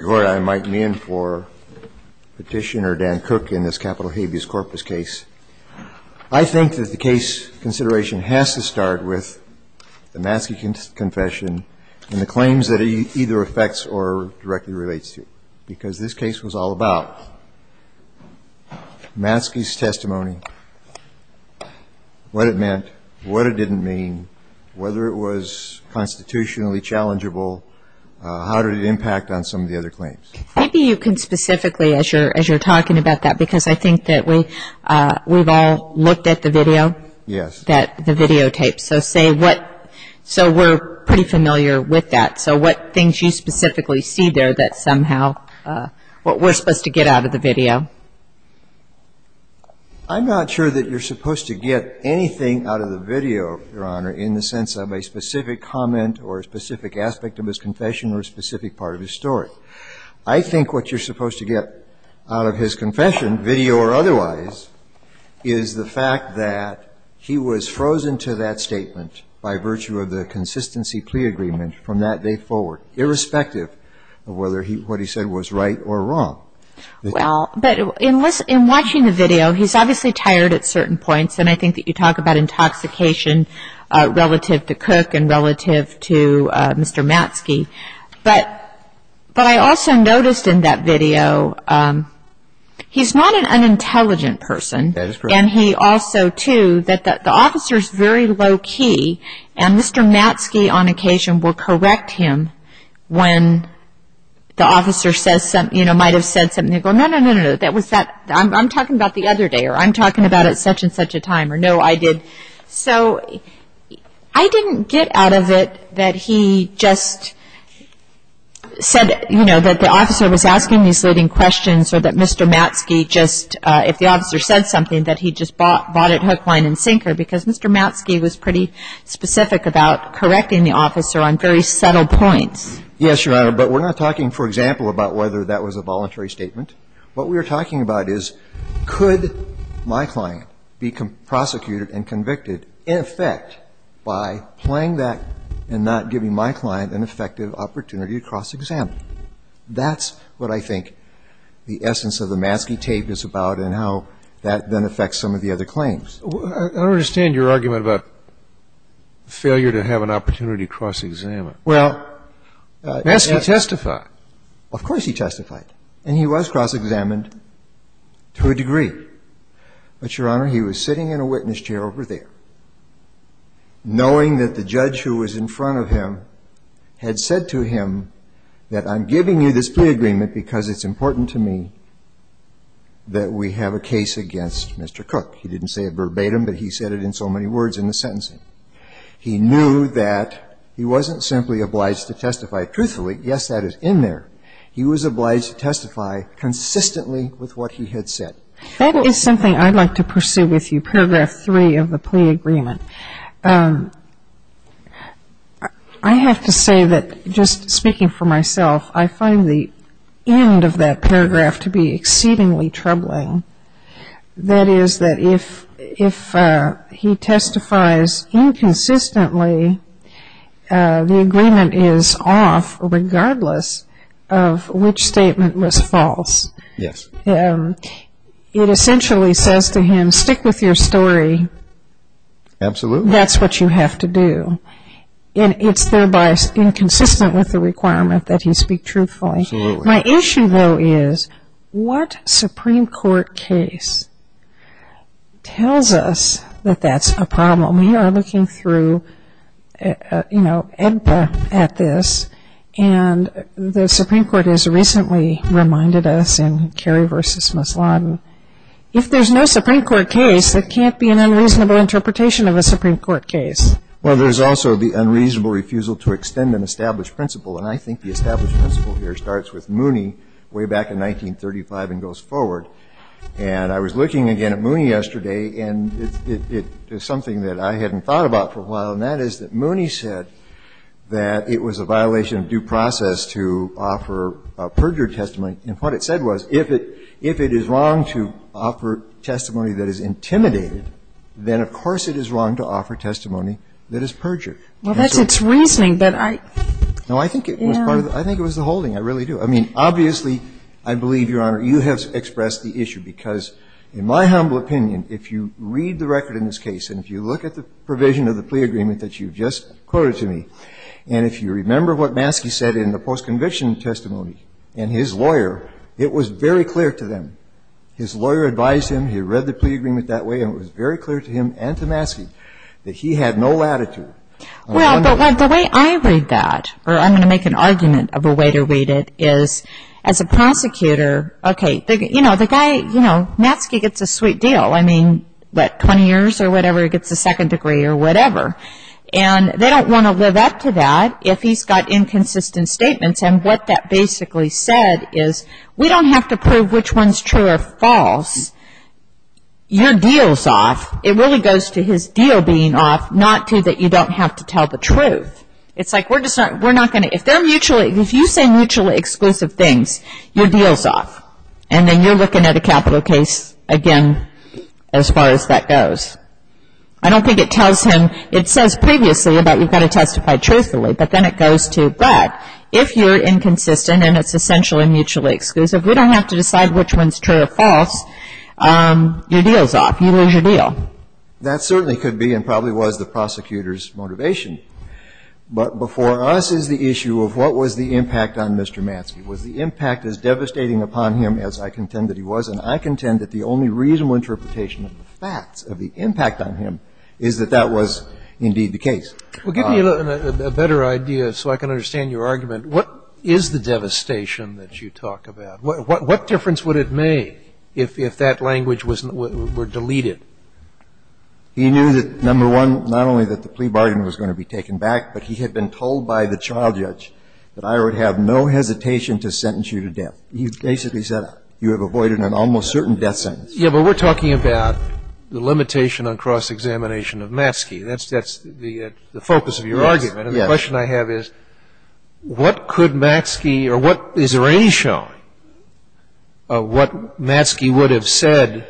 I might be in for petitioner Dan Cook in this capital habeas corpus case. I think that the case consideration has to start with the Maskey confession and the claims that it either affects or directly relates to, because this case was all about Maskey's testimony, what it meant, what it didn't mean, whether it was constitutionally challengeable, how did it impact on some of the other cases, and I think that's what we're going to look at today. I'm not sure that you're supposed to get anything out of the video, Your Honor, in the sense of a specific comment or a specific aspect of his confession or a specific part of his story. I think what you're supposed to get out of his confession, video or otherwise, is the fact that he was frozen to that statement by virtue of the consistency plea agreement from that day forward, irrespective of whether what he said was right or wrong. Well, but in watching the video, he's obviously tired at certain points, and I think that you talk about intoxication relative to Cook and relative to Mr. Maskey, but I also noticed in that video, he's not an unintelligent person. And he also, too, that the officer's very low key, and Mr. Maskey on occasion will correct him when the officer says something, you know, might have said something, and he'll go, no, no, no, no, that was that, I'm talking about the other day, or I'm talking about at such and such a time, or no, I did. So I didn't get out of it that he just said, you know, that the officer was asking these leading questions or that Mr. Maskey just, if the officer said something, that he just bought it hook, line, and sinker, because Mr. Maskey was pretty specific about correcting the officer on very subtle points. Yes, Your Honor, but we're not talking, for example, about whether that was a voluntary statement. What we are talking about is could my client be prosecuted and convicted in effect by playing that and not giving my client an effective opportunity to cross-examine. That's what I think the essence of the Maskey tape is about and how that then affects some of the other claims. I don't understand your argument about failure to have an opportunity to cross-examine. Well, yes. Maskey testified. Of course he testified, and he was cross-examined to a degree. But, Your Honor, he was sitting in a witness chair over there, knowing that the judge who was in front of him had said to him that I'm giving you this plea agreement because it's important to me that we have a case against Mr. Cook. He didn't say it verbatim, but he said it in so many words in the sentencing. He knew that he wasn't simply obliged to testify truthfully. Yes, that is in there. He was obliged to testify consistently with what he had said. That is something I'd like to pursue with you, paragraph 3 of the plea agreement. I have to say that just speaking for myself, I find the end of that paragraph to be exceedingly troubling. That is that if he testifies inconsistently, the agreement is off regardless of which statement was false. Yes. It essentially says to him, stick with your story. Absolutely. That's what you have to do. And it's thereby inconsistent with the requirement that he speak truthfully. Absolutely. My issue, though, is what Supreme Court case tells us that that's a problem? We are looking through, you know, at this, and the Supreme Court has recently reminded us in Kerry v. If there's no Supreme Court case, there can't be an unreasonable interpretation of a Supreme Court case. Well, there's also the unreasonable refusal to extend an established principle, and I think the established principle here starts with Mooney way back in 1935 and goes forward. And I was looking again at Mooney yesterday, and it's something that I hadn't thought about for a while, and that is that Mooney said that it was a violation of due process to offer a perjured testimony. And what it said was if it is wrong to offer testimony that is intimidated, then of course it is wrong to offer testimony that is perjured. Well, that's its reasoning, but I – No, I think it was the holding. I really do. I mean, obviously, I believe, Your Honor, you have expressed the issue, because in my humble opinion, if you read the record in this case and if you look at the provision of the plea agreement that you've just quoted to me, and if you remember what Maskey said in the post-conviction testimony and his lawyer, it was very clear to them, his lawyer advised him, he read the plea agreement that way, and it was very clear to him and to Maskey that he had no latitude. Well, but the way I read that, or I'm going to make an argument of the way to read it, is as a prosecutor, okay, you know, the guy, you know, Maskey gets a sweet deal. I mean, what, 20 years or whatever, he gets a second degree or whatever. And they don't want to live up to that if he's got inconsistent statements, and what that basically said is, we don't have to prove which one's true or false. Your deal's off. It really goes to his deal being off, not to that you don't have to tell the truth. It's like, we're just not, we're not going to, if they're mutually, if you say mutually exclusive things, your deal's off. And then you're looking at a capital case, again, as far as that goes. I don't think it tells him, it says previously about you've got to testify truthfully, but then it goes to that. If you're inconsistent and it's essentially mutually exclusive, we don't have to decide which one's true or false. Your deal's off. You lose your deal. That certainly could be and probably was the prosecutor's motivation. But before us is the issue of what was the impact on Mr. Maskey. Was the impact as devastating upon him as I contend that he was? And I contend that the only reasonable interpretation of the facts of the impact on him is that that was indeed the case. Well, give me a better idea so I can understand your argument. What is the devastation that you talk about? What difference would it make if that language were deleted? He knew that, number one, not only that the plea bargain was going to be taken back, but he had been told by the child judge that I would have no hesitation to sentence you to death. He basically said you have avoided an almost certain death sentence. Yeah, but we're talking about the limitation on cross-examination of Maskey. That's the focus of your argument. Yes. And the question I have is what could Maskey or what is the ratio of what Maskey would have said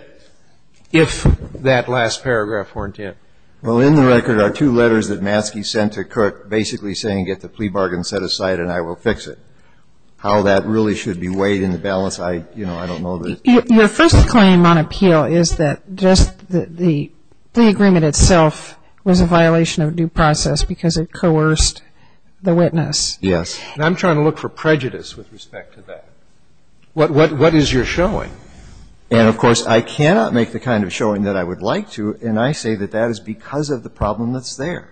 if that last paragraph weren't in? Well, in the record are two letters that Maskey sent to Cook basically saying get the plea bargain set aside and I will fix it. How that really should be weighed in the balance, I don't know. Your first claim on appeal is that just the agreement itself was a violation of due process because it coerced the witness. Yes. And I'm trying to look for prejudice with respect to that. What is your showing? And, of course, I cannot make the kind of showing that I would like to, and I say that that is because of the problem that's there.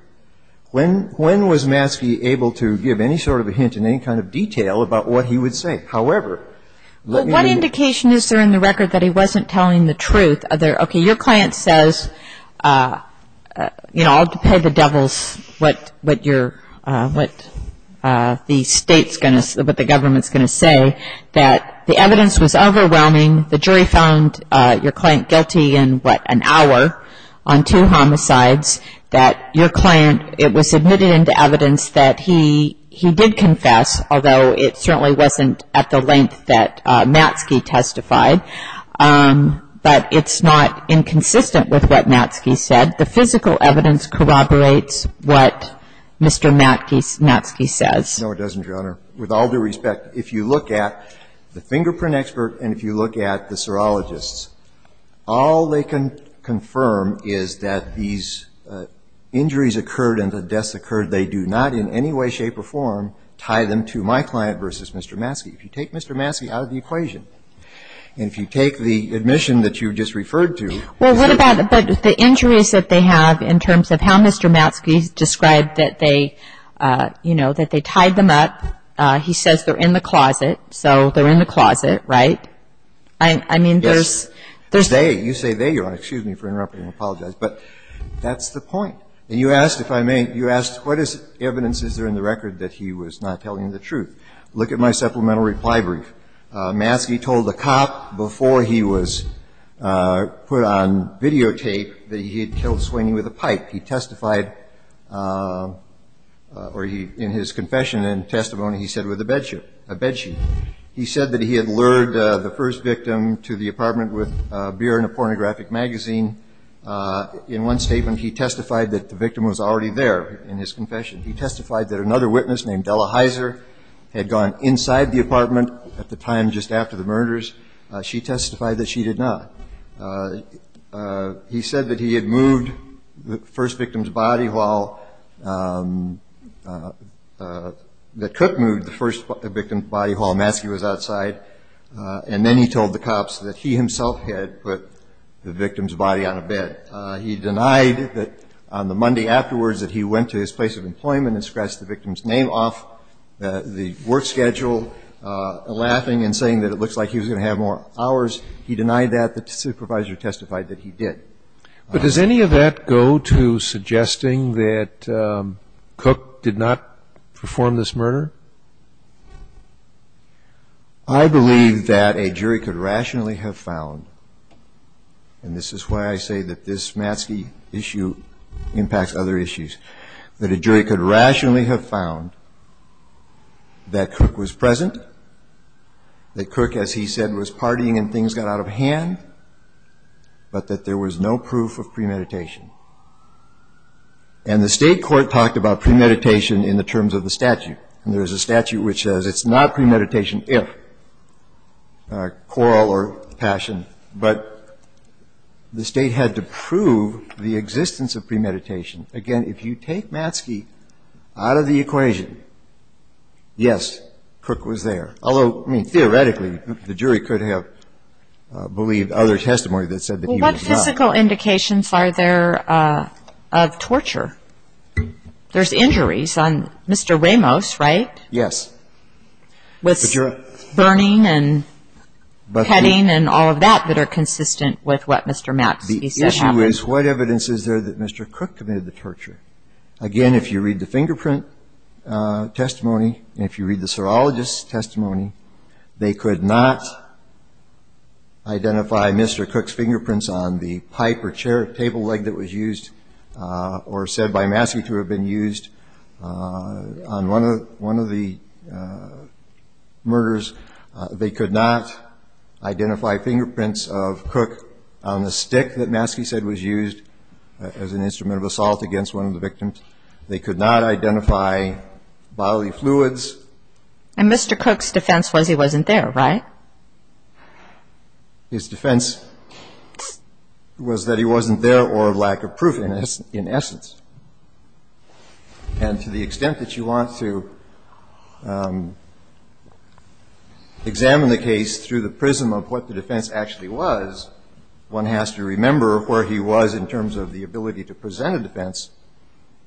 When was Maskey able to give any sort of a hint in any kind of detail about what he would say? However, let me repeat. Well, what indication is there in the record that he wasn't telling the truth? Okay, your client says, you know, I'll pay the devils what the government's going to say, that the evidence was overwhelming. The jury found your client guilty in, what, an hour on two homicides, that your client, it was admitted into evidence that he did confess, although it certainly wasn't at the length that Maskey testified. But it's not inconsistent with what Maskey said. The physical evidence corroborates what Mr. Maskey says. No, it doesn't, Your Honor. With all due respect, if you look at the fingerprint expert and if you look at the injuries occurred and the deaths occurred, they do not in any way, shape, or form tie them to my client versus Mr. Maskey. If you take Mr. Maskey out of the equation, and if you take the admission that you just referred to. Well, what about the injuries that they have in terms of how Mr. Maskey described that they, you know, that they tied them up. He says they're in the closet, so they're in the closet, right? Yes. I mean, there's... There's they. You say they, Your Honor. Excuse me for interrupting. I apologize. But that's the point. And you asked, if I may, you asked what evidence is there in the record that he was not telling the truth. Look at my supplemental reply brief. Maskey told the cop before he was put on videotape that he had killed Sweeney with a pipe. He testified, or he, in his confession and testimony, he said with a bed sheet, a bed sheet. He said that he had lured the first victim to the apartment with beer and a pornographic magazine. In one statement, he testified that the victim was already there in his confession. He testified that another witness named Della Heiser had gone inside the apartment at the time just after the murders. She testified that she did not. He said that he had moved the first victim's body while, that Cook moved the first victim's body while Maskey was outside. And then he told the cops that he himself had put the victim's body on a bed. He denied that on the Monday afterwards that he went to his place of employment and scratched the victim's name off the work schedule, laughing and saying that it looks like he was going to have more hours. He denied that. The supervisor testified that he did. But does any of that go to suggesting that Cook did not perform this murder? I believe that a jury could rationally have found, and this is why I say that this Maskey issue impacts other issues, that a jury could rationally have found that Cook was present, that Cook, as he said, was partying and things got out of hand, but that there was no proof of premeditation. And the state court talked about premeditation in the terms of the statute. And there's a statute which says it's not premeditation if quarrel or passion, but the state had to prove the existence of premeditation. Again, if you take Maskey out of the equation, yes, Cook was there. Although, I mean, theoretically, the jury could have believed other testimony that said that he was not. Well, what physical indications are there of torture? There's injuries on Mr. Ramos, right? Yes. With burning and cutting and all of that that are consistent with what Mr. Maskey said happened. The issue is what evidence is there that Mr. Cook committed the torture? Again, if you read the fingerprint testimony and if you read the serologist's testimony, they could not identify Mr. Cook's fingerprints on the pipe or table leg that was used or said by Maskey to have been used on one of the murders. They could not identify fingerprints of Cook on the stick that Maskey said was used as an instrument of assault against one of the victims. They could not identify bodily fluids. And Mr. Cook's defense was he wasn't there, right? His defense was that he wasn't there or lack of proof, in essence. And to the extent that you want to examine the case through the prism of what the defense actually was, one has to remember where he was in terms of the ability to present a defense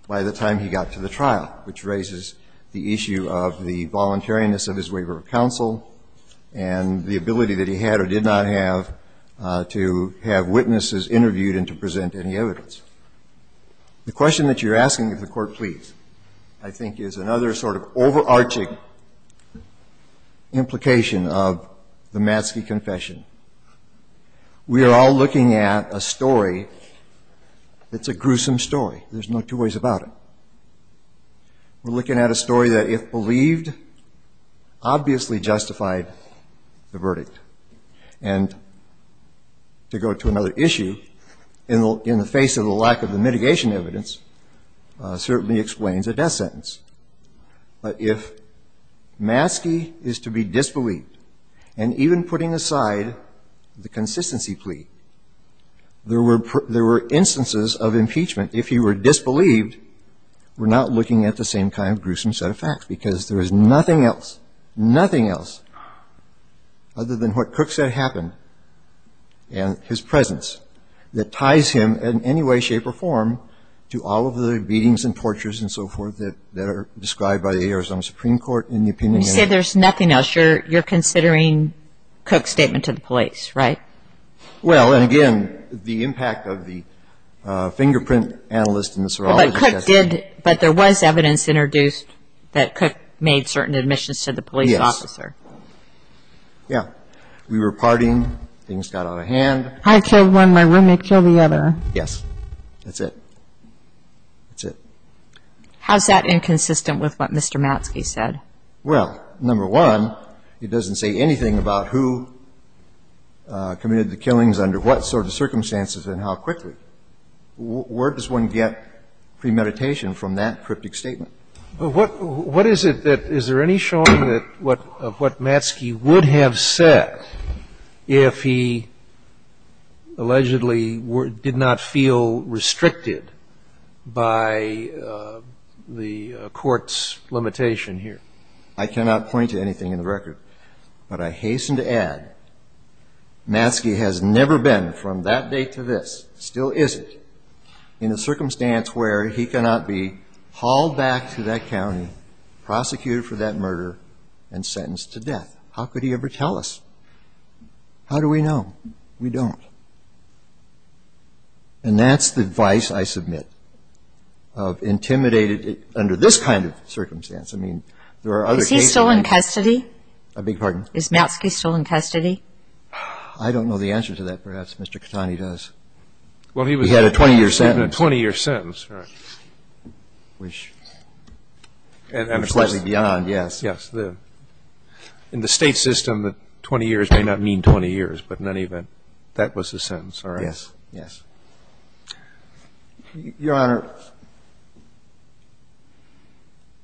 by the time he got to the trial, which raises the issue of the voluntariness of his waiver of counsel and the ability that he had or did not have to have witnesses interviewed and to present any evidence. The question that you're asking, if the Court please, I think is another sort of overarching implication of the Maskey confession. We are all looking at a story that's a gruesome story. There's no two ways about it. We're looking at a story that, if believed, obviously justified the verdict. And to go to another issue, in the face of the lack of the mitigation evidence, certainly explains a death sentence. But if Maskey is to be disbelieved, and even putting aside the consistency plea, there were instances of impeachment, if he were disbelieved, we're not looking at the same kind of gruesome set of facts. Because there is nothing else, nothing else other than what Cook said happened and his presence that ties him in any way, shape, or form to all of the beatings and tortures and so forth that are described by the Arizona Supreme Court in the opinion. You say there's nothing else. You're considering Cook's statement to the police, right? Well, and again, the impact of the fingerprint analyst and the serologist. But Cook did, but there was evidence introduced that Cook made certain admissions to the police officer. Yes. Yeah. We were partying, things got out of hand. I killed one, my roommate killed the other. Yes, that's it. That's it. How's that inconsistent with what Mr. Maskey said? Well, number one, it doesn't say anything about who committed the killings under what sort of circumstances and how quickly. Where does one get premeditation from that cryptic statement? What is it that, is there any showing of what Maskey would have said if he allegedly did not feel restricted by the court's limitation here? I cannot point to anything in the record, but I hasten to add Maskey has never been from that date to this, still isn't, in a circumstance where he cannot be hauled back to that county, prosecuted for that murder, and sentenced to death. How could he ever tell us? How do we know? We don't. And that's the advice I submit of intimidated under this kind of circumstance. I mean, there are other cases. Is Maskey still in custody? I don't know the answer to that, perhaps. Mr. Catani does. He had a 20-year sentence. In the State system, 20 years may not mean 20 years, but in any event, that was his sentence. Your Honor,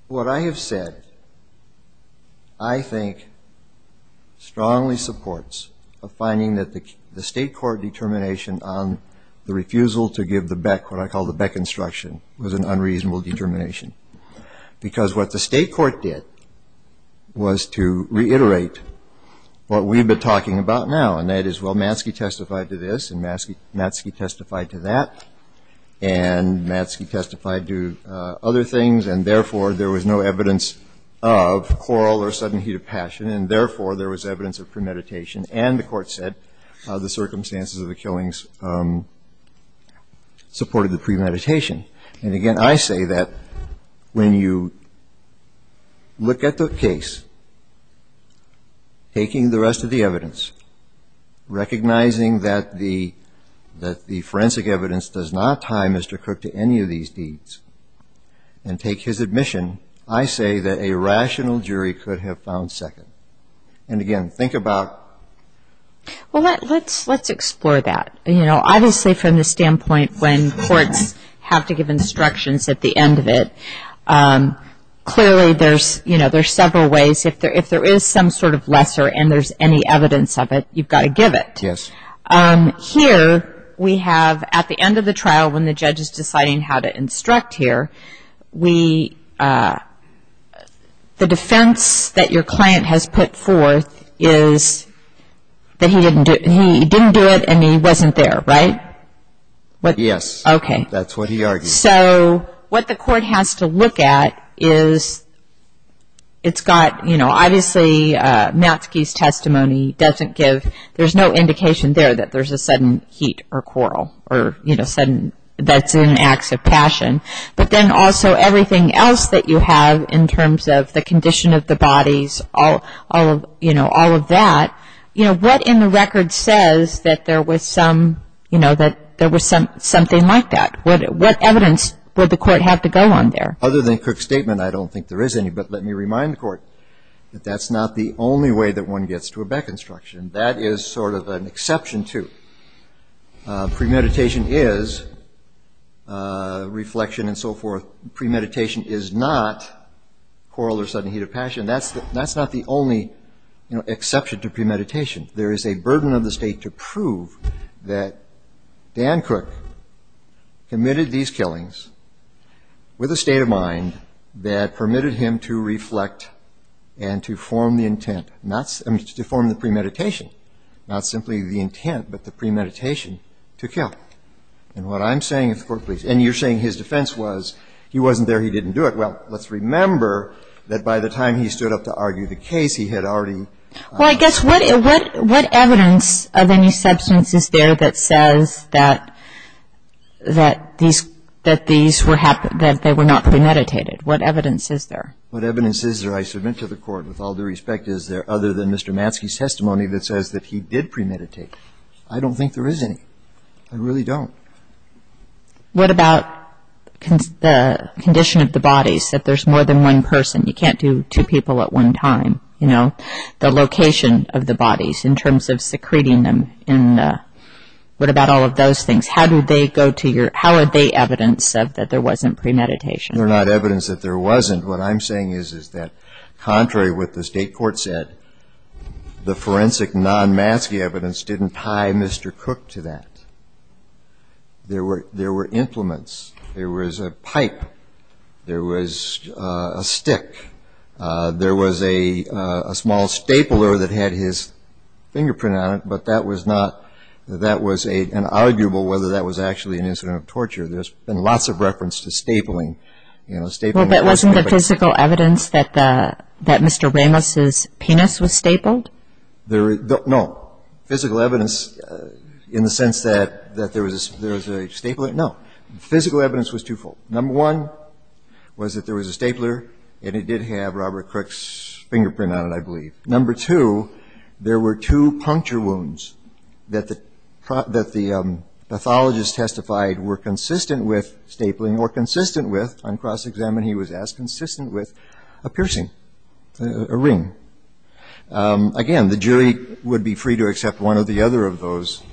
what I have said, I think, strongly supports a finding that the State court determination on the refusal to give the Beck, what I call the Beck instruction, was an unreasonable determination. Because what the State court did was to reiterate what we've been talking about now, and that is, well, Maskey testified to this, and Maskey testified to that. And Maskey testified to other things, and therefore, there was no evidence of quarrel or sudden heat of passion. And therefore, there was evidence of premeditation. And the court said the circumstances of the killings supported the premeditation. And again, I say that when you look at the case, taking the rest of the evidence, recognizing that the court's decision on the refusal to give the Beck instruction, that the forensic evidence does not tie Mr. Crook to any of these deeds, and take his admission, I say that a rational jury could have found second. And again, think about... Well, let's explore that. You know, obviously from the standpoint when courts have to give instructions at the end of it, clearly there's, you know, there's several ways. If there is some sort of lesser and there's any evidence of it, you've got to give it. Yes. However, we have at the end of the trial when the judge is deciding how to instruct here, we... The defense that your client has put forth is that he didn't do it and he wasn't there, right? Yes. Okay. That's what he argued. So what the court has to look at is it's got, you know, obviously Maskey's testimony doesn't give... It doesn't give evidence that he did not eat or quarrel or, you know, that's in acts of passion. But then also everything else that you have in terms of the condition of the bodies, all of, you know, all of that. You know, what in the record says that there was some, you know, that there was something like that? What evidence would the court have to go on there? Other than Cook's statement, I don't think there is any, but let me remind the court that that's not the only way that one gets to a Beck instruction. That is sort of an exception to premeditation is reflection and so forth. Premeditation is not quarrel or sudden heat of passion. That's not the only exception to premeditation. There is a burden of the state to prove that Dan Cook committed these killings with a state of mind that permitted him to reflect and to form the intent, not to form the premeditation, not simply the intent, but the premeditation to kill. And what I'm saying, if the court please, and you're saying his defense was he wasn't there, he didn't do it. Well, let's remember that by the time he stood up to argue the case, he had already. Well, I guess what evidence of any substance is there that says that these were not premeditated? What evidence is there? What evidence is there, I submit to the court, with all due respect, is there other than Mr. Matzke's testimony that says that he did premeditate? I don't think there is any. I really don't. What about the condition of the bodies, that there's more than one person? You can't do two people at one time. The location of the bodies in terms of secreting them, what about all of those things? How are they evidence that there wasn't premeditation? They're not evidence that there wasn't. What I'm saying is that contrary to what the state court said, the forensic non-Matzke evidence didn't tie Mr. Cook to that. There were implements. There was a pipe. There was a stick. There was a small stapler that had his fingerprint on it, but that was not an arguable whether that was actually an incident of torture. There's been lots of reference to stapling. Well, that wasn't the physical evidence that Mr. Ramos's penis was stapled? No. Physical evidence in the sense that there was a stapler? No. Physical evidence was twofold. Number one was that there was a stapler, and it did have Robert Crook's fingerprint on it, I believe. Number two, there were two puncture wounds that the pathologist testified were consistent with stapling or consistent with, on cross-examination he was asked, consistent with a piercing, a ring. Again, the jury would be free to accept one or the other of those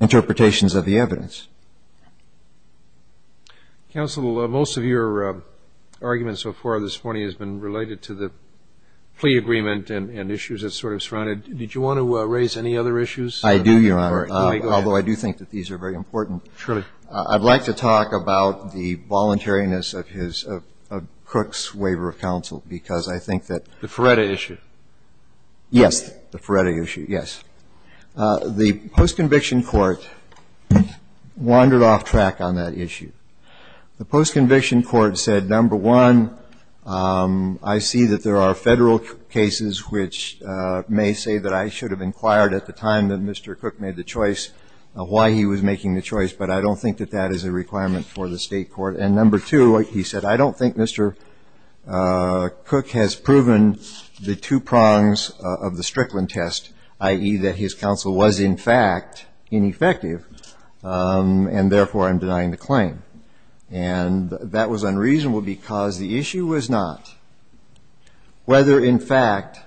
interpretations of the evidence. Counsel, most of your argument so far this morning has been related to the plea agreement and issues that sort of surrounded it. Did you want to raise any other issues? I do, Your Honor, although I do think that these are very important. Surely. I'd like to talk about the voluntariness of his, of Crook's waiver of counsel, because I think that the Ferretta issue. Yes. The Ferretta issue, yes. The post-conviction court wandered off track on that issue. The post-conviction court said, number one, I see that there are federal cases which may say that I should have inquired at the time that Mr. Crook made the choice, why he was making the choice, but I don't think that that is a requirement for the state court. And number two, he said, I don't think Mr. Crook has proven the two prongs of the Strickland test, i.e. that his counsel was, in fact, ineffective, and therefore I'm denying the claim. And that was unreasonable because the issue was not whether, in fact,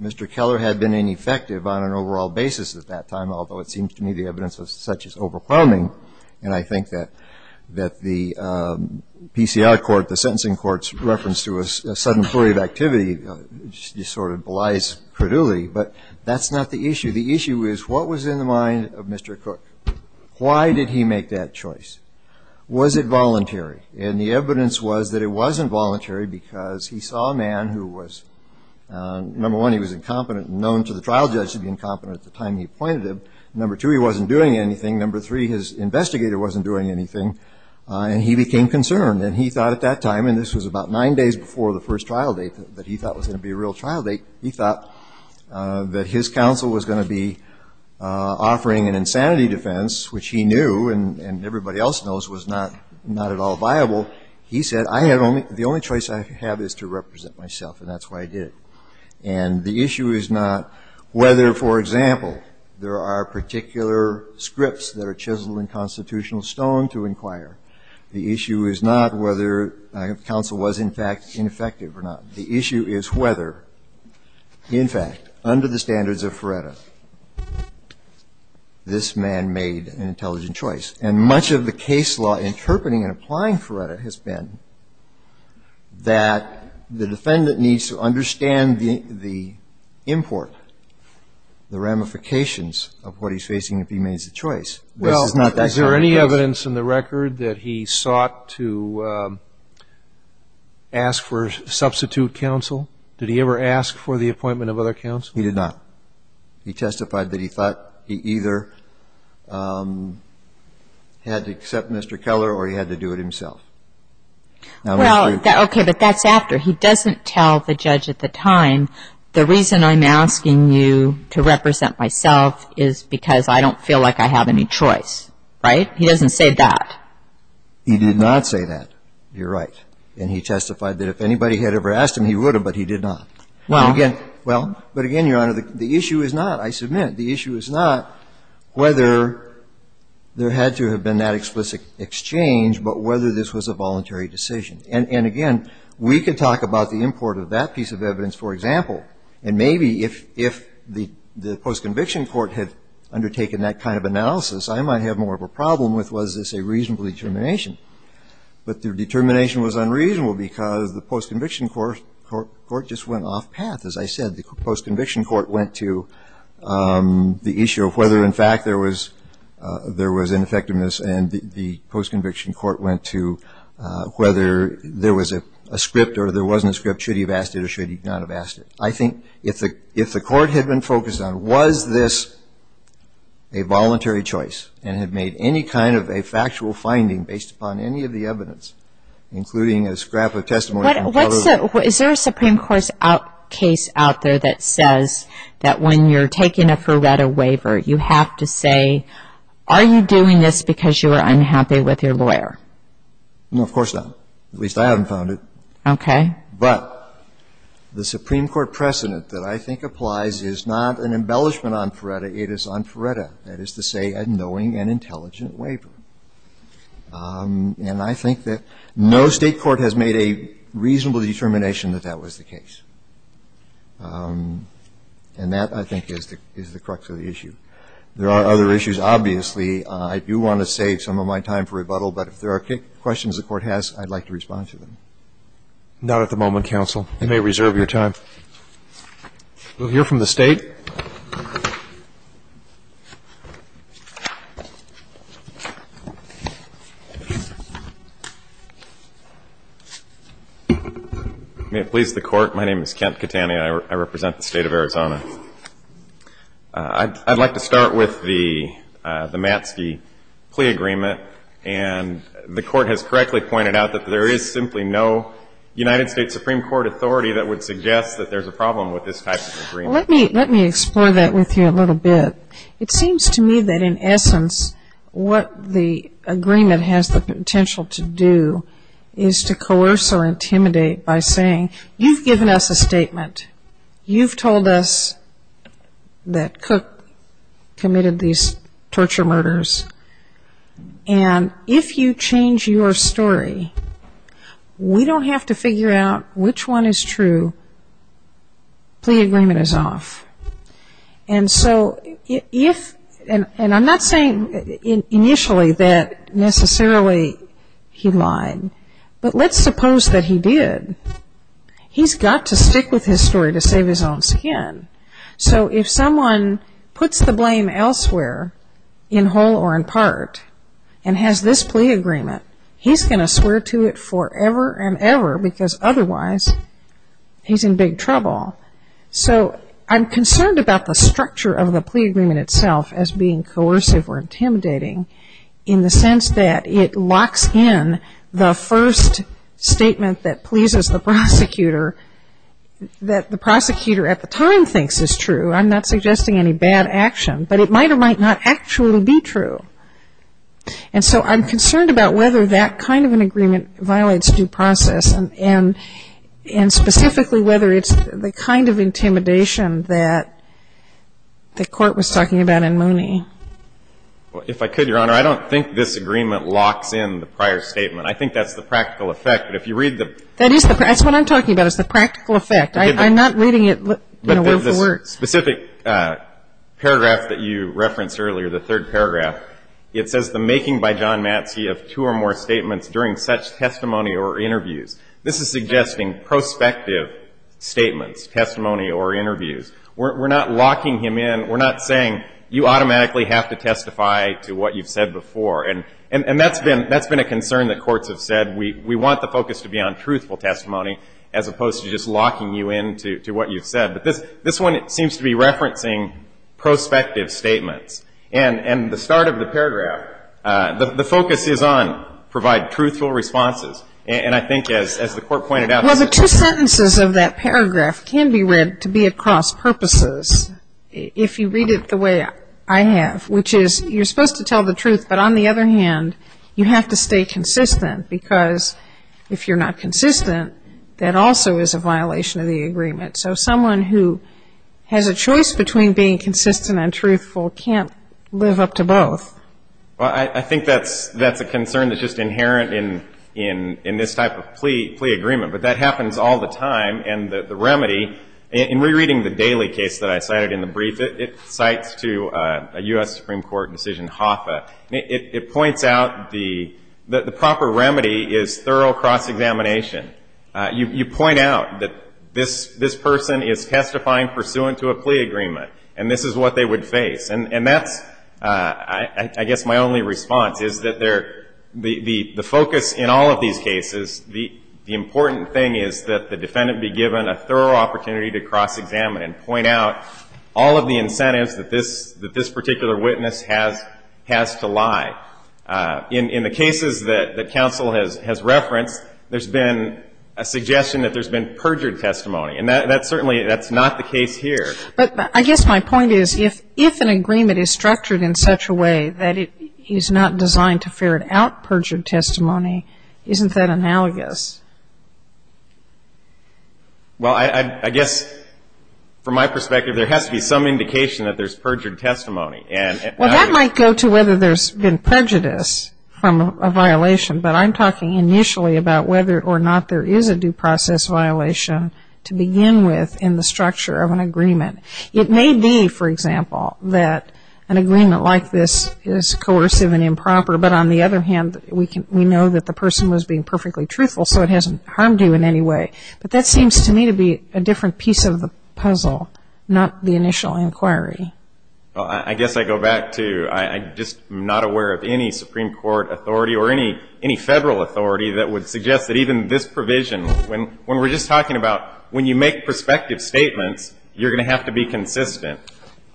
Mr. Keller had been ineffective on an overall basis at that time, although it seems to me the evidence of such is overwhelming. And I think that the PCI court, the sentencing court's reference to a sudden flurry of activity just sort of belies credulity. But that's not the issue. The issue is what was in the mind of Mr. Crook? Why did he make that choice? Was it voluntary? And the evidence was that it wasn't voluntary because he saw a man who was, number one, he was incompetent and known to the trial judge to be incompetent at the time he appointed him. Number two, he wasn't doing anything. Number three, his investigator wasn't doing anything. And he became concerned. And he thought at that time, and this was about nine days before the first trial date that he thought was going to be a real trial date, he thought that his counsel was going to be offering an insanity defense, which he knew and everybody else knows was not at all viable. He said, I have only, the only choice I have is to represent myself. And that's why I did it. And the issue is not whether, for example, there are particular scripts that are chiseled in that require, the issue is not whether counsel was, in fact, ineffective or not. The issue is whether, in fact, under the standards of Feretta, this man made an intelligent choice. And much of the case law interpreting and applying Feretta has been that the defendant needs to understand the import, the ramifications of what he's facing if he made the choice. Well, is there any evidence in the record that he sought to ask for substitute counsel? Did he ever ask for the appointment of other counsel? He did not. He testified that he thought he either had to accept Mr. Keller or he had to do it himself. Well, okay, but that's after. He doesn't tell the judge at the time, the reason I'm asking you to represent myself is because I don't feel like I have any choice. Right? He doesn't say that. He did not say that. You're right. And he testified that if anybody had ever asked him, he would have, but he did not. Well. Well, but again, Your Honor, the issue is not, I submit, the issue is not whether there had to have been that explicit exchange, but whether this was a voluntary decision. And again, we could talk about the import of that piece of evidence, for example, and maybe if the post-conviction court had undertaken that kind of analysis, I might have more of a problem with was this a reasonable determination. But the determination was unreasonable because the post-conviction court just went off path. As I said, the post-conviction court went to the issue of whether, in fact, there was ineffectiveness, and the post-conviction court went to whether there was a script or there wasn't a script, should he have asked it or should he not have asked it. I think if the court had been focused on was this a voluntary choice and had made any kind of a factual finding based upon any of the evidence, including a scrap of testimony from a fellow. Is there a Supreme Court case out there that says that when you're taking a Ferretta waiver, you have to say, are you doing this because you are unhappy with your lawyer? No, of course not. At least I haven't found it. Okay. But the Supreme Court precedent that I think applies is not an embellishment on Ferretta, it is on Ferretta, that is to say a knowing and intelligent waiver. And I think that no State court has made a reasonable determination that that was the case. And that, I think, is the crux of the issue. There are other issues. Obviously, I do want to save some of my time for rebuttal, but if there are questions the Court has, I'd like to respond to them. Not at the moment, counsel. You may reserve your time. We'll hear from the State. May it please the Court. My name is Kent Catania. I represent the State of Arizona. I'd like to start with the Matzke plea agreement. And the Court has correctly pointed out that there is simply no United States Supreme Court authority that would suggest that there's a problem with this type of agreement. Well, let me, let me say this. Let me explore that with you a little bit. It seems to me that, in essence, what the agreement has the potential to do is to coerce or intimidate by saying, you've given us a statement. You've told us that Cook committed these torture murders. And if you change your story, we don't have to figure out which one is true. The plea agreement is off. And so if, and I'm not saying initially that necessarily he lied. But let's suppose that he did. He's got to stick with his story to save his own skin. So if someone puts the blame elsewhere, in whole or in part, and has this plea agreement, he's going to swear to it forever and ever because otherwise he's in big trouble. So I'm concerned about the structure of the plea agreement itself as being coercive or intimidating in the sense that it locks in the first statement that pleases the prosecutor, that the prosecutor at the time thinks is true. I'm not suggesting any bad action. But it might or might not actually be true. And so I'm concerned about whether that kind of an agreement violates due process and specifically whether it's the kind of intimidation that the court was talking about in Mooney. If I could, Your Honor, I don't think this agreement locks in the prior statement. I think that's the practical effect. But if you read the ---- That's what I'm talking about is the practical effect. I'm not reading it word for word. In the specific paragraph that you referenced earlier, the third paragraph, it says the making by John Matsi of two or more statements during such testimony or interviews. This is suggesting prospective statements, testimony or interviews. We're not locking him in. We're not saying you automatically have to testify to what you've said before. And that's been a concern that courts have said. We want the focus to be on truthful testimony as opposed to just locking you in to what you've said. But this one seems to be referencing prospective statements. And the start of the paragraph, the focus is on provide truthful responses. And I think as the court pointed out ---- Well, the two sentences of that paragraph can be read to be at cross purposes if you read it the way I have, which is you're supposed to tell the truth, but on the other hand, you have to stay consistent because if you're not consistent, that also is a violation of the agreement. So someone who has a choice between being consistent and truthful can't live up to both. Well, I think that's a concern that's just inherent in this type of plea agreement. But that happens all the time. And the remedy, in rereading the Daley case that I cited in the brief, it cites to a U.S. Supreme Court decision, HOFA. It points out that the proper remedy is thorough cross-examination. You point out that this person is testifying pursuant to a plea agreement, and this is what they would face. And that's, I guess, my only response is that the focus in all of these cases, the important thing is that the defendant be given a thorough opportunity to cross-examine and point out all of the incentives that this particular witness has to lie. In the cases that counsel has referenced, there's been a suggestion that there's been perjured testimony. And that's certainly not the case here. But I guess my point is, if an agreement is structured in such a way that it is not designed to ferret out perjured testimony, isn't that analogous? Well, I guess, from my perspective, there has to be some indication that there's perjured testimony. Well, that might go to whether there's been prejudice from a violation, but I'm talking initially about whether or not there is a due process violation to begin with in the structure of an agreement. It may be, for example, that an agreement like this is coercive and improper, but on the other hand, we know that the person was being perfectly truthful, so it hasn't harmed you in any way. But that seems to me to be a different piece of the puzzle, not the initial inquiry. Well, I guess I go back to I'm just not aware of any Supreme Court authority or any Federal authority that would suggest that even this provision, when we're just talking about when you make prospective statements, you're going to have to be consistent.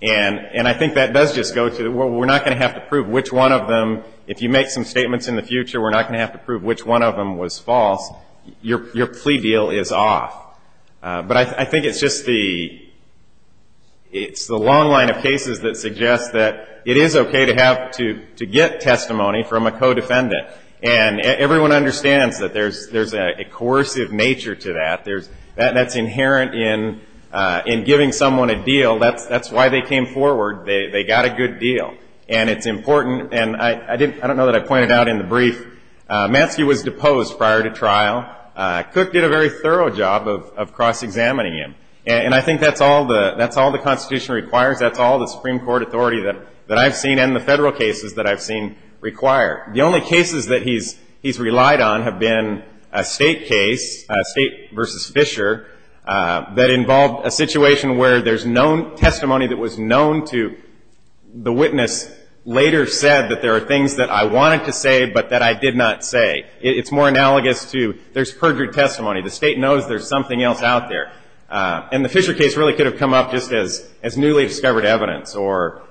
And I think that does just go to we're not going to have to prove which one of them, if you make some statements in the future, we're not going to have to prove which one of them was false. Your plea deal is off. But I think it's just the long line of cases that suggests that it is okay to get testimony from a co-defendant. And everyone understands that there's a coercive nature to that. That's inherent in giving someone a deal. That's why they came forward. They got a good deal. And it's important, and I don't know that I pointed out in the brief, Manske was deposed prior to trial. Cook did a very thorough job of cross-examining him. And I think that's all the Constitution requires. That's all the Supreme Court authority that I've seen and the Federal cases that I've seen require. The only cases that he's relied on have been a State case, a State versus Fisher, that involved a situation where there's no testimony that was known to the witness later said that there are things that I wanted to say but that I did not say. It's more analogous to there's perjured testimony. The State knows there's something else out there. And the Fisher case really could have come up just as newly discovered evidence or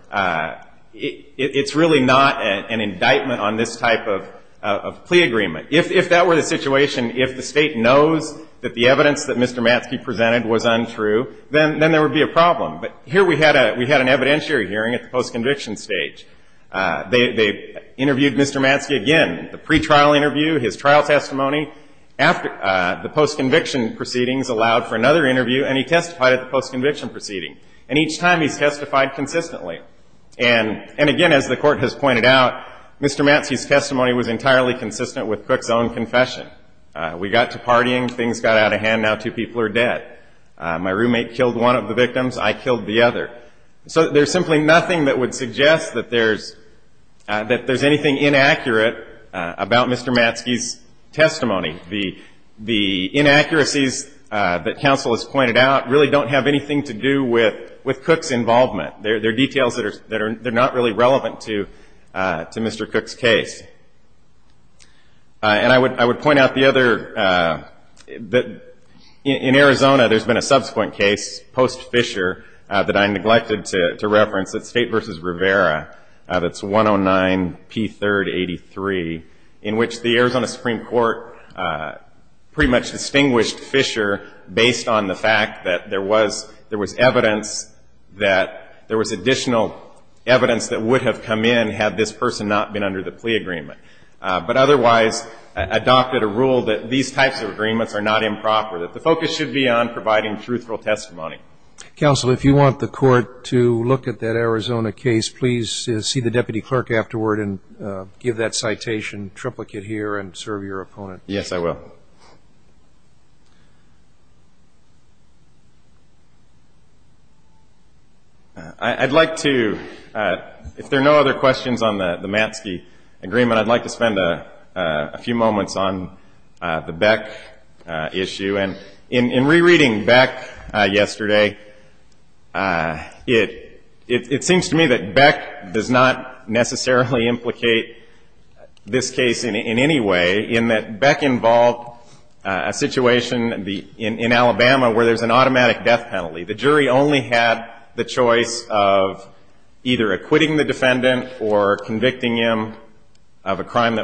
it's really not an indictment on this type of plea agreement. If that were the situation, if the State knows that the evidence that Mr. Manske presented was untrue, then there would be a problem. But here we had an evidentiary hearing at the post-conviction stage. They interviewed Mr. Manske again. The pretrial interview, his trial testimony, the post-conviction proceedings allowed for another interview, and he testified at the post-conviction proceeding. And each time he's testified consistently. And again, as the Court has pointed out, Mr. Manske's testimony was entirely consistent with Cook's own confession. We got to partying. Things got out of hand. Now two people are dead. My roommate killed one of the victims. I killed the other. So there's simply nothing that would suggest that there's anything inaccurate about Mr. Manske's testimony. The inaccuracies that counsel has pointed out really don't have anything to do with Cook's involvement. They're details that are not really relevant to Mr. Cook's case. And I would point out the other. In Arizona, there's been a subsequent case, post-Fisher, that I neglected to reference. It's State v. Rivera. That's 109-P3-83, in which the Arizona Supreme Court pretty much distinguished Fisher based on the fact that there was evidence that there was additional evidence that would have come in had this person not been under the plea agreement. But otherwise, adopted a rule that these types of agreements are not improper, that the focus should be on providing truthful testimony. Counsel, if you want the court to look at that Arizona case, please see the deputy clerk afterward and give that citation triplicate here and serve your opponent. Yes, I will. I'd like to, if there are no other questions on the Manske agreement, I'd like to spend a few moments on the Beck issue. And in rereading Beck yesterday, it seems to me that Beck does not necessarily implicate this case in any way, in that Beck involved a situation in Alabama where there's an automatic death penalty. The jury only had the choice of either acquitting the defendant or convicting him of a crime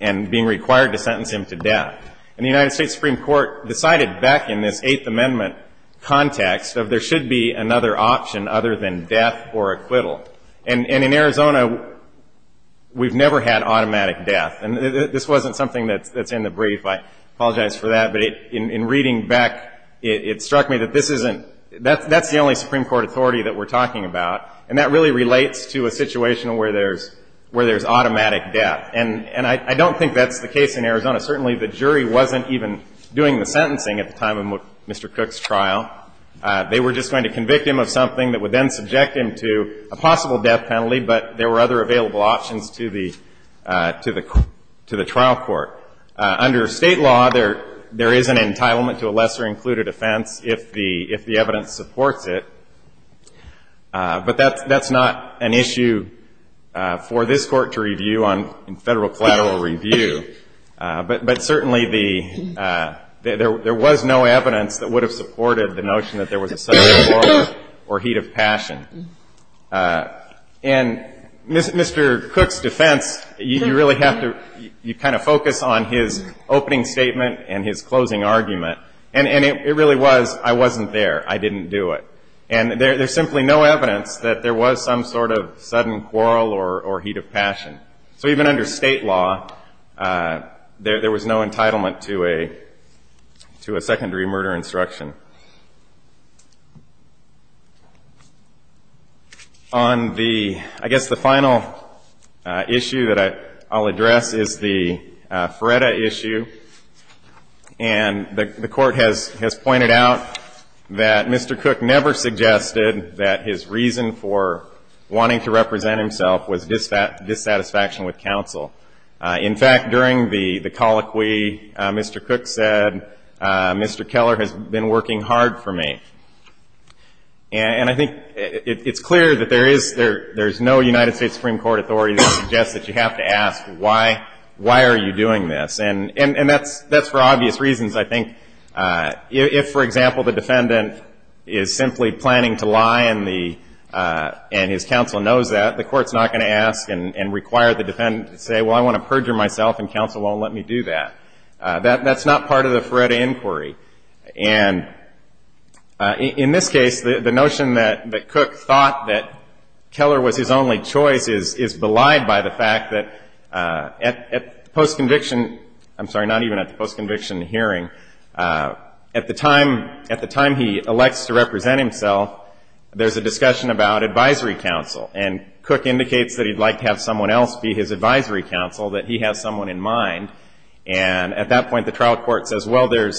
and being required to sentence him to death. And the United States Supreme Court decided Beck in this Eighth Amendment context that there should be another option other than death or acquittal. And in Arizona, we've never had automatic death. And this wasn't something that's in the brief. I apologize for that. But in reading Beck, it struck me that this isn't the only Supreme Court authority that we're talking about. And that really relates to a situation where there's automatic death. And I don't think that's the case in Arizona. Certainly, the jury wasn't even doing the sentencing at the time of Mr. Cook's trial. They were just going to convict him of something that would then subject him to a possible death penalty, but there were other available options to the trial court. Under State law, there is an entitlement to a lesser-included offense if the evidence supports it. But that's not an issue for this Court to review in Federal collateral review. But certainly, there was no evidence that would have supported the notion that there was a subject order or heat of passion. And Mr. Cook's defense, you really have to kind of focus on his opening statement and his closing argument. And it really was, I wasn't there. I didn't do it. And there's simply no evidence that there was some sort of sudden quarrel or heat of passion. So even under State law, there was no entitlement to a secondary murder instruction. On the, I guess the final issue that I'll address is the Feretta issue. And the Court has pointed out that Mr. Cook never suggested that his reason for wanting to represent himself was dissatisfaction with counsel. In fact, during the colloquy, Mr. Cook said, Mr. Keller has been working hard for me. And I think it's clear that there is no United States Supreme Court authority that suggests that you have to ask, why are you doing this? And that's for obvious reasons. I think if, for example, the defendant is simply planning to lie and his counsel knows that, the Court's not going to ask and require the defendant to say, well, I want to perjure myself and counsel won't let me do that. That's not part of the Feretta inquiry. And in this case, the notion that Cook thought that Keller was his only choice is belied by the fact that at the post-conviction, I'm sorry, not even at the post-conviction hearing, at the time he elects to represent himself, there's a discussion about advisory counsel. And Cook indicates that he'd like to have someone else be his advisory counsel, that he has someone in mind. And at that point, the trial court says, well, there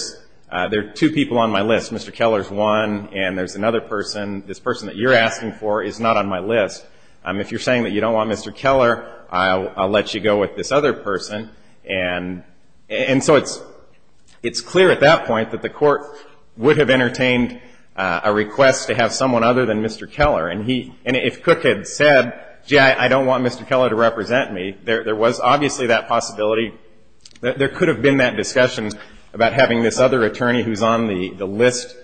are two people on my list. Mr. Keller's one, and there's another person. This person that you're asking for is not on my list. If you're saying that you don't want Mr. Keller, I'll let you go with this other person. And so it's clear at that point that the Court would have entertained a request to have someone other than Mr. Keller. And if Cook had said, gee, I don't want Mr. Keller to represent me, there was obviously that possibility. There could have been that discussion about having this other attorney who's on the list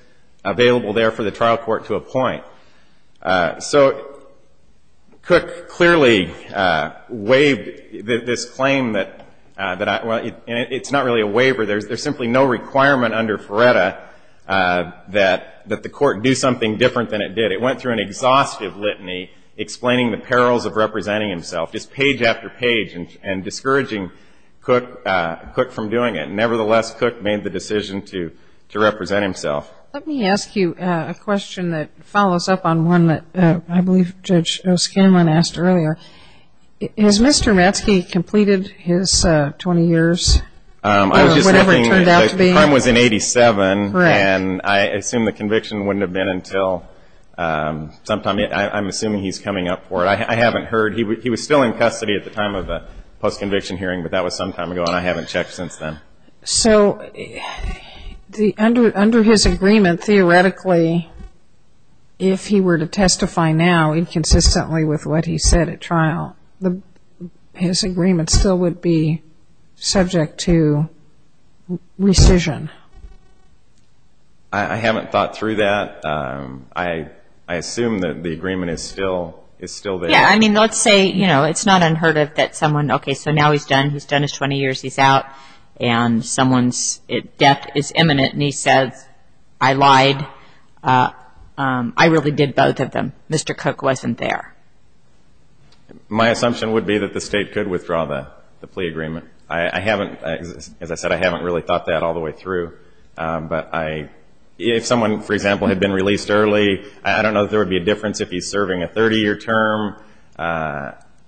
available there for the trial court to appoint. So Cook clearly waived this claim that, well, it's not really a waiver. There's simply no requirement under Feretta that the Court do something different than it did. It went through an exhaustive litany explaining the perils of representing himself, just page after page, and discouraging Cook from doing it. Nevertheless, Cook made the decision to represent himself. Let me ask you a question that follows up on one that I believe Judge O'Scanlan asked earlier. Has Mr. Matzke completed his 20 years or whatever it turned out to be? The time was in 1987, and I assume the conviction wouldn't have been until sometime. I'm assuming he's coming up for it. I haven't heard. He was still in custody at the time of the post-conviction hearing, but that was some time ago, and I haven't checked since then. So under his agreement, theoretically, if he were to testify now, with what he said at trial, his agreement still would be subject to rescission. I haven't thought through that. I assume that the agreement is still there. Yeah, I mean, let's say, you know, it's not unheard of that someone, okay, so now he's done. He's done his 20 years. He's out, and someone's death is imminent, and he says, I lied. I really did both of them. Mr. Cook wasn't there. My assumption would be that the State could withdraw the plea agreement. As I said, I haven't really thought that all the way through. But if someone, for example, had been released early, I don't know if there would be a difference if he's serving a 30-year term.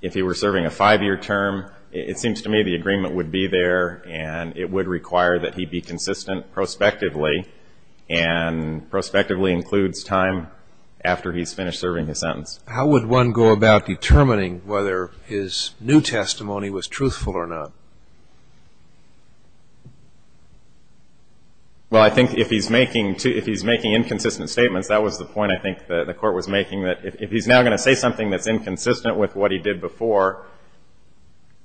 If he were serving a 5-year term, it seems to me the agreement would be there, and it would require that he be consistent prospectively, and prospectively includes time after he's finished serving his sentence. How would one go about determining whether his new testimony was truthful or not? Well, I think if he's making inconsistent statements, that was the point I think the Court was making, that if he's now going to say something that's inconsistent with what he did before,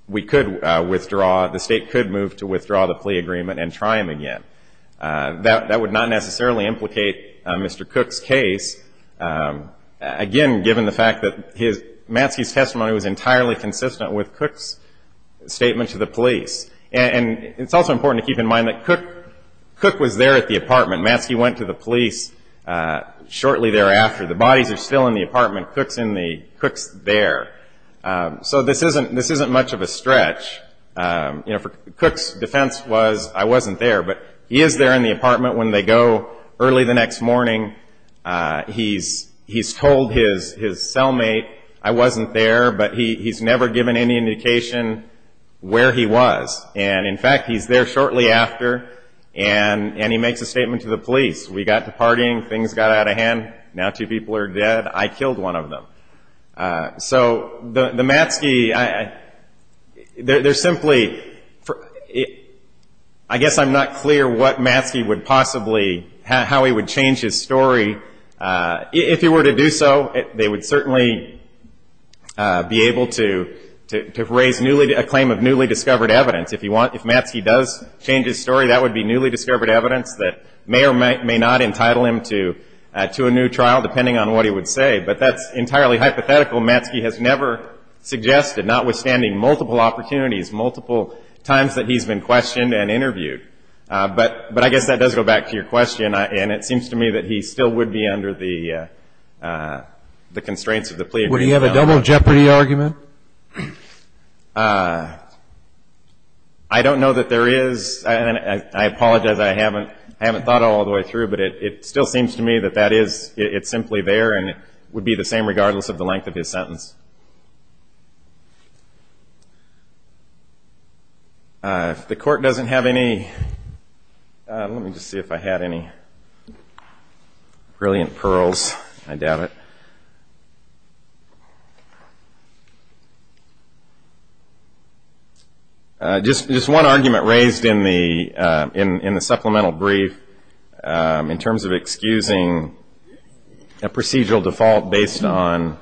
we could withdraw. The State could move to withdraw the plea agreement and try him again. That would not necessarily implicate Mr. Cook's case, again, given the fact that Matzke's testimony was entirely consistent with Cook's statement to the police. And it's also important to keep in mind that Cook was there at the apartment. Matzke went to the police shortly thereafter. The bodies are still in the apartment. Cook's there. So this isn't much of a stretch. Cook's defense was, I wasn't there, but he is there in the apartment. When they go early the next morning, he's told his cellmate, I wasn't there, but he's never given any indication where he was. And, in fact, he's there shortly after, and he makes a statement to the police. We got to partying, things got out of hand, now two people are dead, I killed one of them. So the Matzke, they're simply, I guess I'm not clear what Matzke would possibly, how he would change his story. If he were to do so, they would certainly be able to raise a claim of newly discovered evidence. If Matzke does change his story, that would be newly discovered evidence that may or may not entitle him to a new trial, depending on what he would say. But that's entirely hypothetical. Matzke has never suggested, notwithstanding multiple opportunities, multiple times that he's been questioned and interviewed. But I guess that does go back to your question, and it seems to me that he still would be under the constraints of the plea. Would he have a double jeopardy argument? I don't know that there is. I apologize, I haven't thought all the way through, but it still seems to me that that is, it's simply there, and it would be the same regardless of the length of his sentence. If the court doesn't have any, let me just see if I had any brilliant pearls, I doubt it. Just one argument raised in the supplemental brief, in terms of excusing a procedural default based on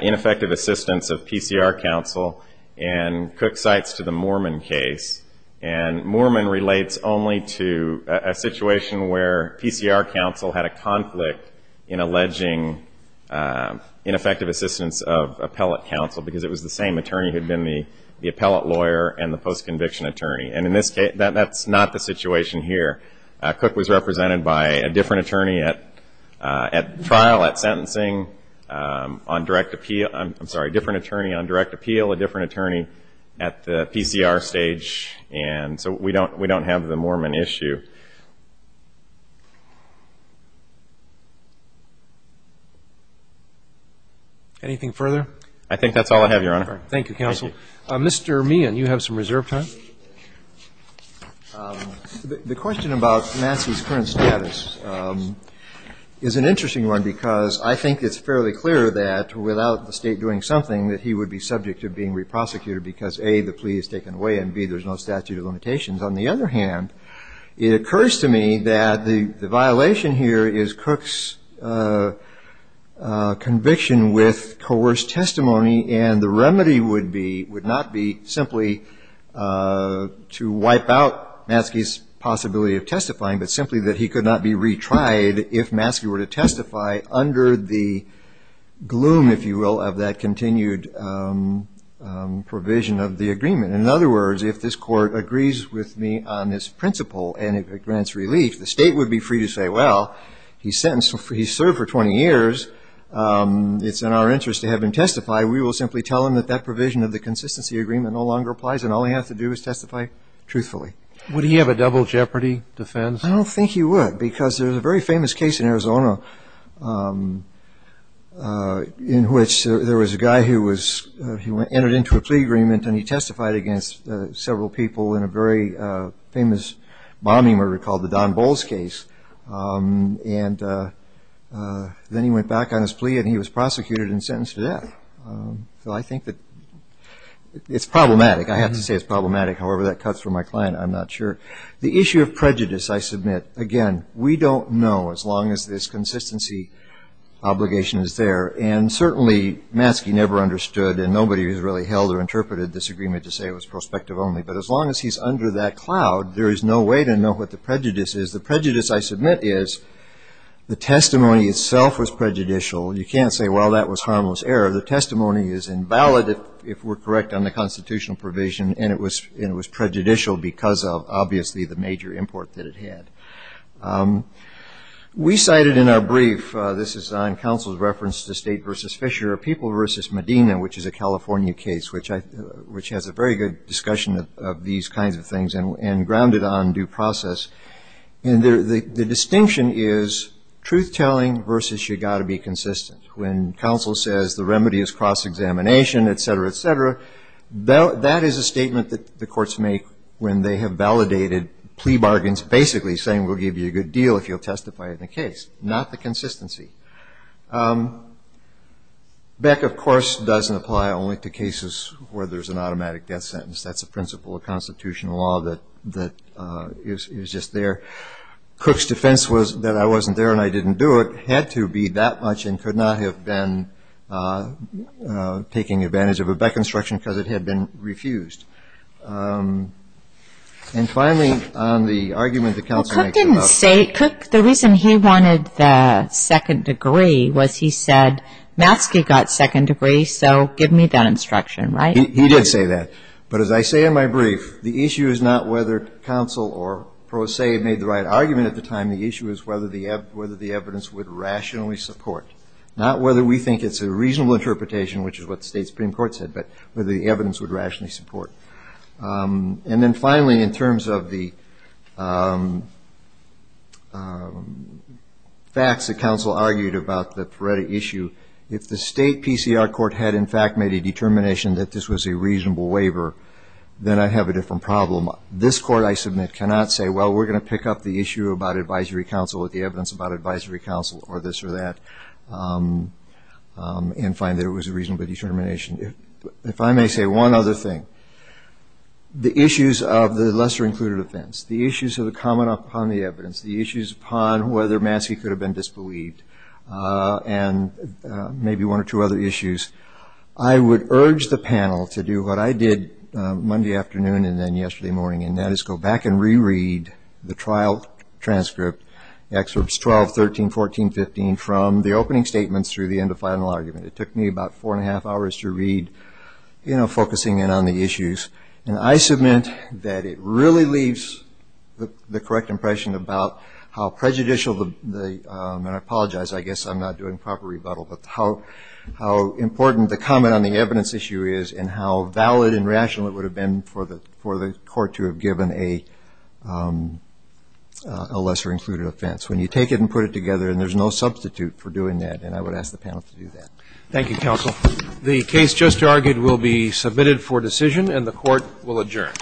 ineffective assistance of PCR counsel and Cook cites to the Moorman case. And Moorman relates only to a situation where PCR counsel had a conflict in alleging ineffective assistance of appellate counsel, because it was the same attorney who had been the appellate lawyer and the post-conviction attorney. And in this case, that's not the situation here. Cook was represented by a different attorney at trial, at sentencing, on direct appeal, I'm sorry, different attorney on direct appeal, a different attorney at the PCR stage. And so we don't have the Moorman issue. Anything further? I think that's all I have, Your Honor. Thank you, counsel. Mr. Meehan, you have some reserve time. The question about Massey's current status is an interesting one, because I think it's fairly clear that without the State doing something, that he would be subject to being re-prosecuted because, A, the plea is taken away, and, B, there's no statute of limitations. On the other hand, it occurs to me that the violation here is Cook's conviction with coerced testimony, and the remedy would not be simply to wipe out Massey's possibility of testifying, but simply that he could not be retried if Massey were to testify under the gloom, if you will, of that continued provision of the agreement. In other words, if this Court agrees with me on this principle and it grants relief, the State would be free to say, well, he's sentenced, he's served for 20 years, it's in our interest to have him testify. We will simply tell him that that provision of the consistency agreement no longer applies and all he has to do is testify truthfully. Would he have a double jeopardy defense? I don't think he would because there's a very famous case in Arizona in which there was a guy who entered into a plea agreement and he testified against several people in a very famous bombing murder called the Don Bowles case, and then he went back on his plea and he was prosecuted and sentenced to death. So I think that it's problematic. I have to say it's problematic. However, that cuts for my client. I'm not sure. The issue of prejudice, I submit, again, we don't know as long as this consistency obligation is there. And certainly, Maskey never understood and nobody who's really held or interpreted this agreement to say it was prospective only. But as long as he's under that cloud, there is no way to know what the prejudice is. The prejudice, I submit, is the testimony itself was prejudicial. You can't say, well, that was harmless error. The testimony is invalid if we're correct on the constitutional provision and it was prejudicial because of, obviously, the major import that it had. We cited in our brief, this is on counsel's reference to State v. Fisher, or People v. Medina, which is a California case, which has a very good discussion of these kinds of things and grounded on due process. And the distinction is truth-telling versus you've got to be consistent. When counsel says the remedy is cross-examination, et cetera, et cetera, that is a statement that the courts make when they have validated plea bargains, basically saying we'll give you a good deal if you'll testify in the case, not the consistency. Beck, of course, doesn't apply only to cases where there's an automatic death sentence. That's a principle of constitutional law that is just there. Cook's defense was that I wasn't there and I didn't do it had to be that much and could not have been taking advantage of a Beck instruction because it had been refused. And finally, on the argument that counsel makes about- Well, Cook didn't say it. Cook, the reason he wanted the second degree was he said Maskey got second degree, so give me that instruction, right? He did say that. But as I say in my brief, the issue is not whether counsel or pro se made the right argument at the time. The issue is whether the evidence would rationally support, not whether we think it's a reasonable interpretation, which is what the state Supreme Court said, but whether the evidence would rationally support. And then finally, in terms of the facts that counsel argued about the Pareto issue, if the state PCR court had, in fact, made a determination that this was a reasonable waiver, then I'd have a different problem. This court, I submit, cannot say, well, we're going to pick up the issue about advisory counsel with the evidence about advisory counsel or this or that and find that it was a reasonable determination. If I may say one other thing, the issues of the lesser-included offense, the issues of the comment upon the evidence, the issues upon whether Maskey could have been disbelieved, and maybe one or two other issues, I would urge the panel to do what I did Monday afternoon and then yesterday morning, and that is go back and reread the trial transcript, excerpts 12, 13, 14, 15, from the opening statements through the end of final argument. It took me about four and a half hours to read, you know, focusing in on the issues. And I submit that it really leaves the correct impression about how prejudicial the ‑‑ and I apologize, I guess I'm not doing proper rebuttal, but how important the comment on the evidence issue is and how valid and rational it would have been for the court to have given a lesser-included offense. When you take it and put it together, and there's no substitute for doing that, and I would ask the panel to do that. Thank you, counsel. The case just argued will be submitted for decision, and the court will adjourn.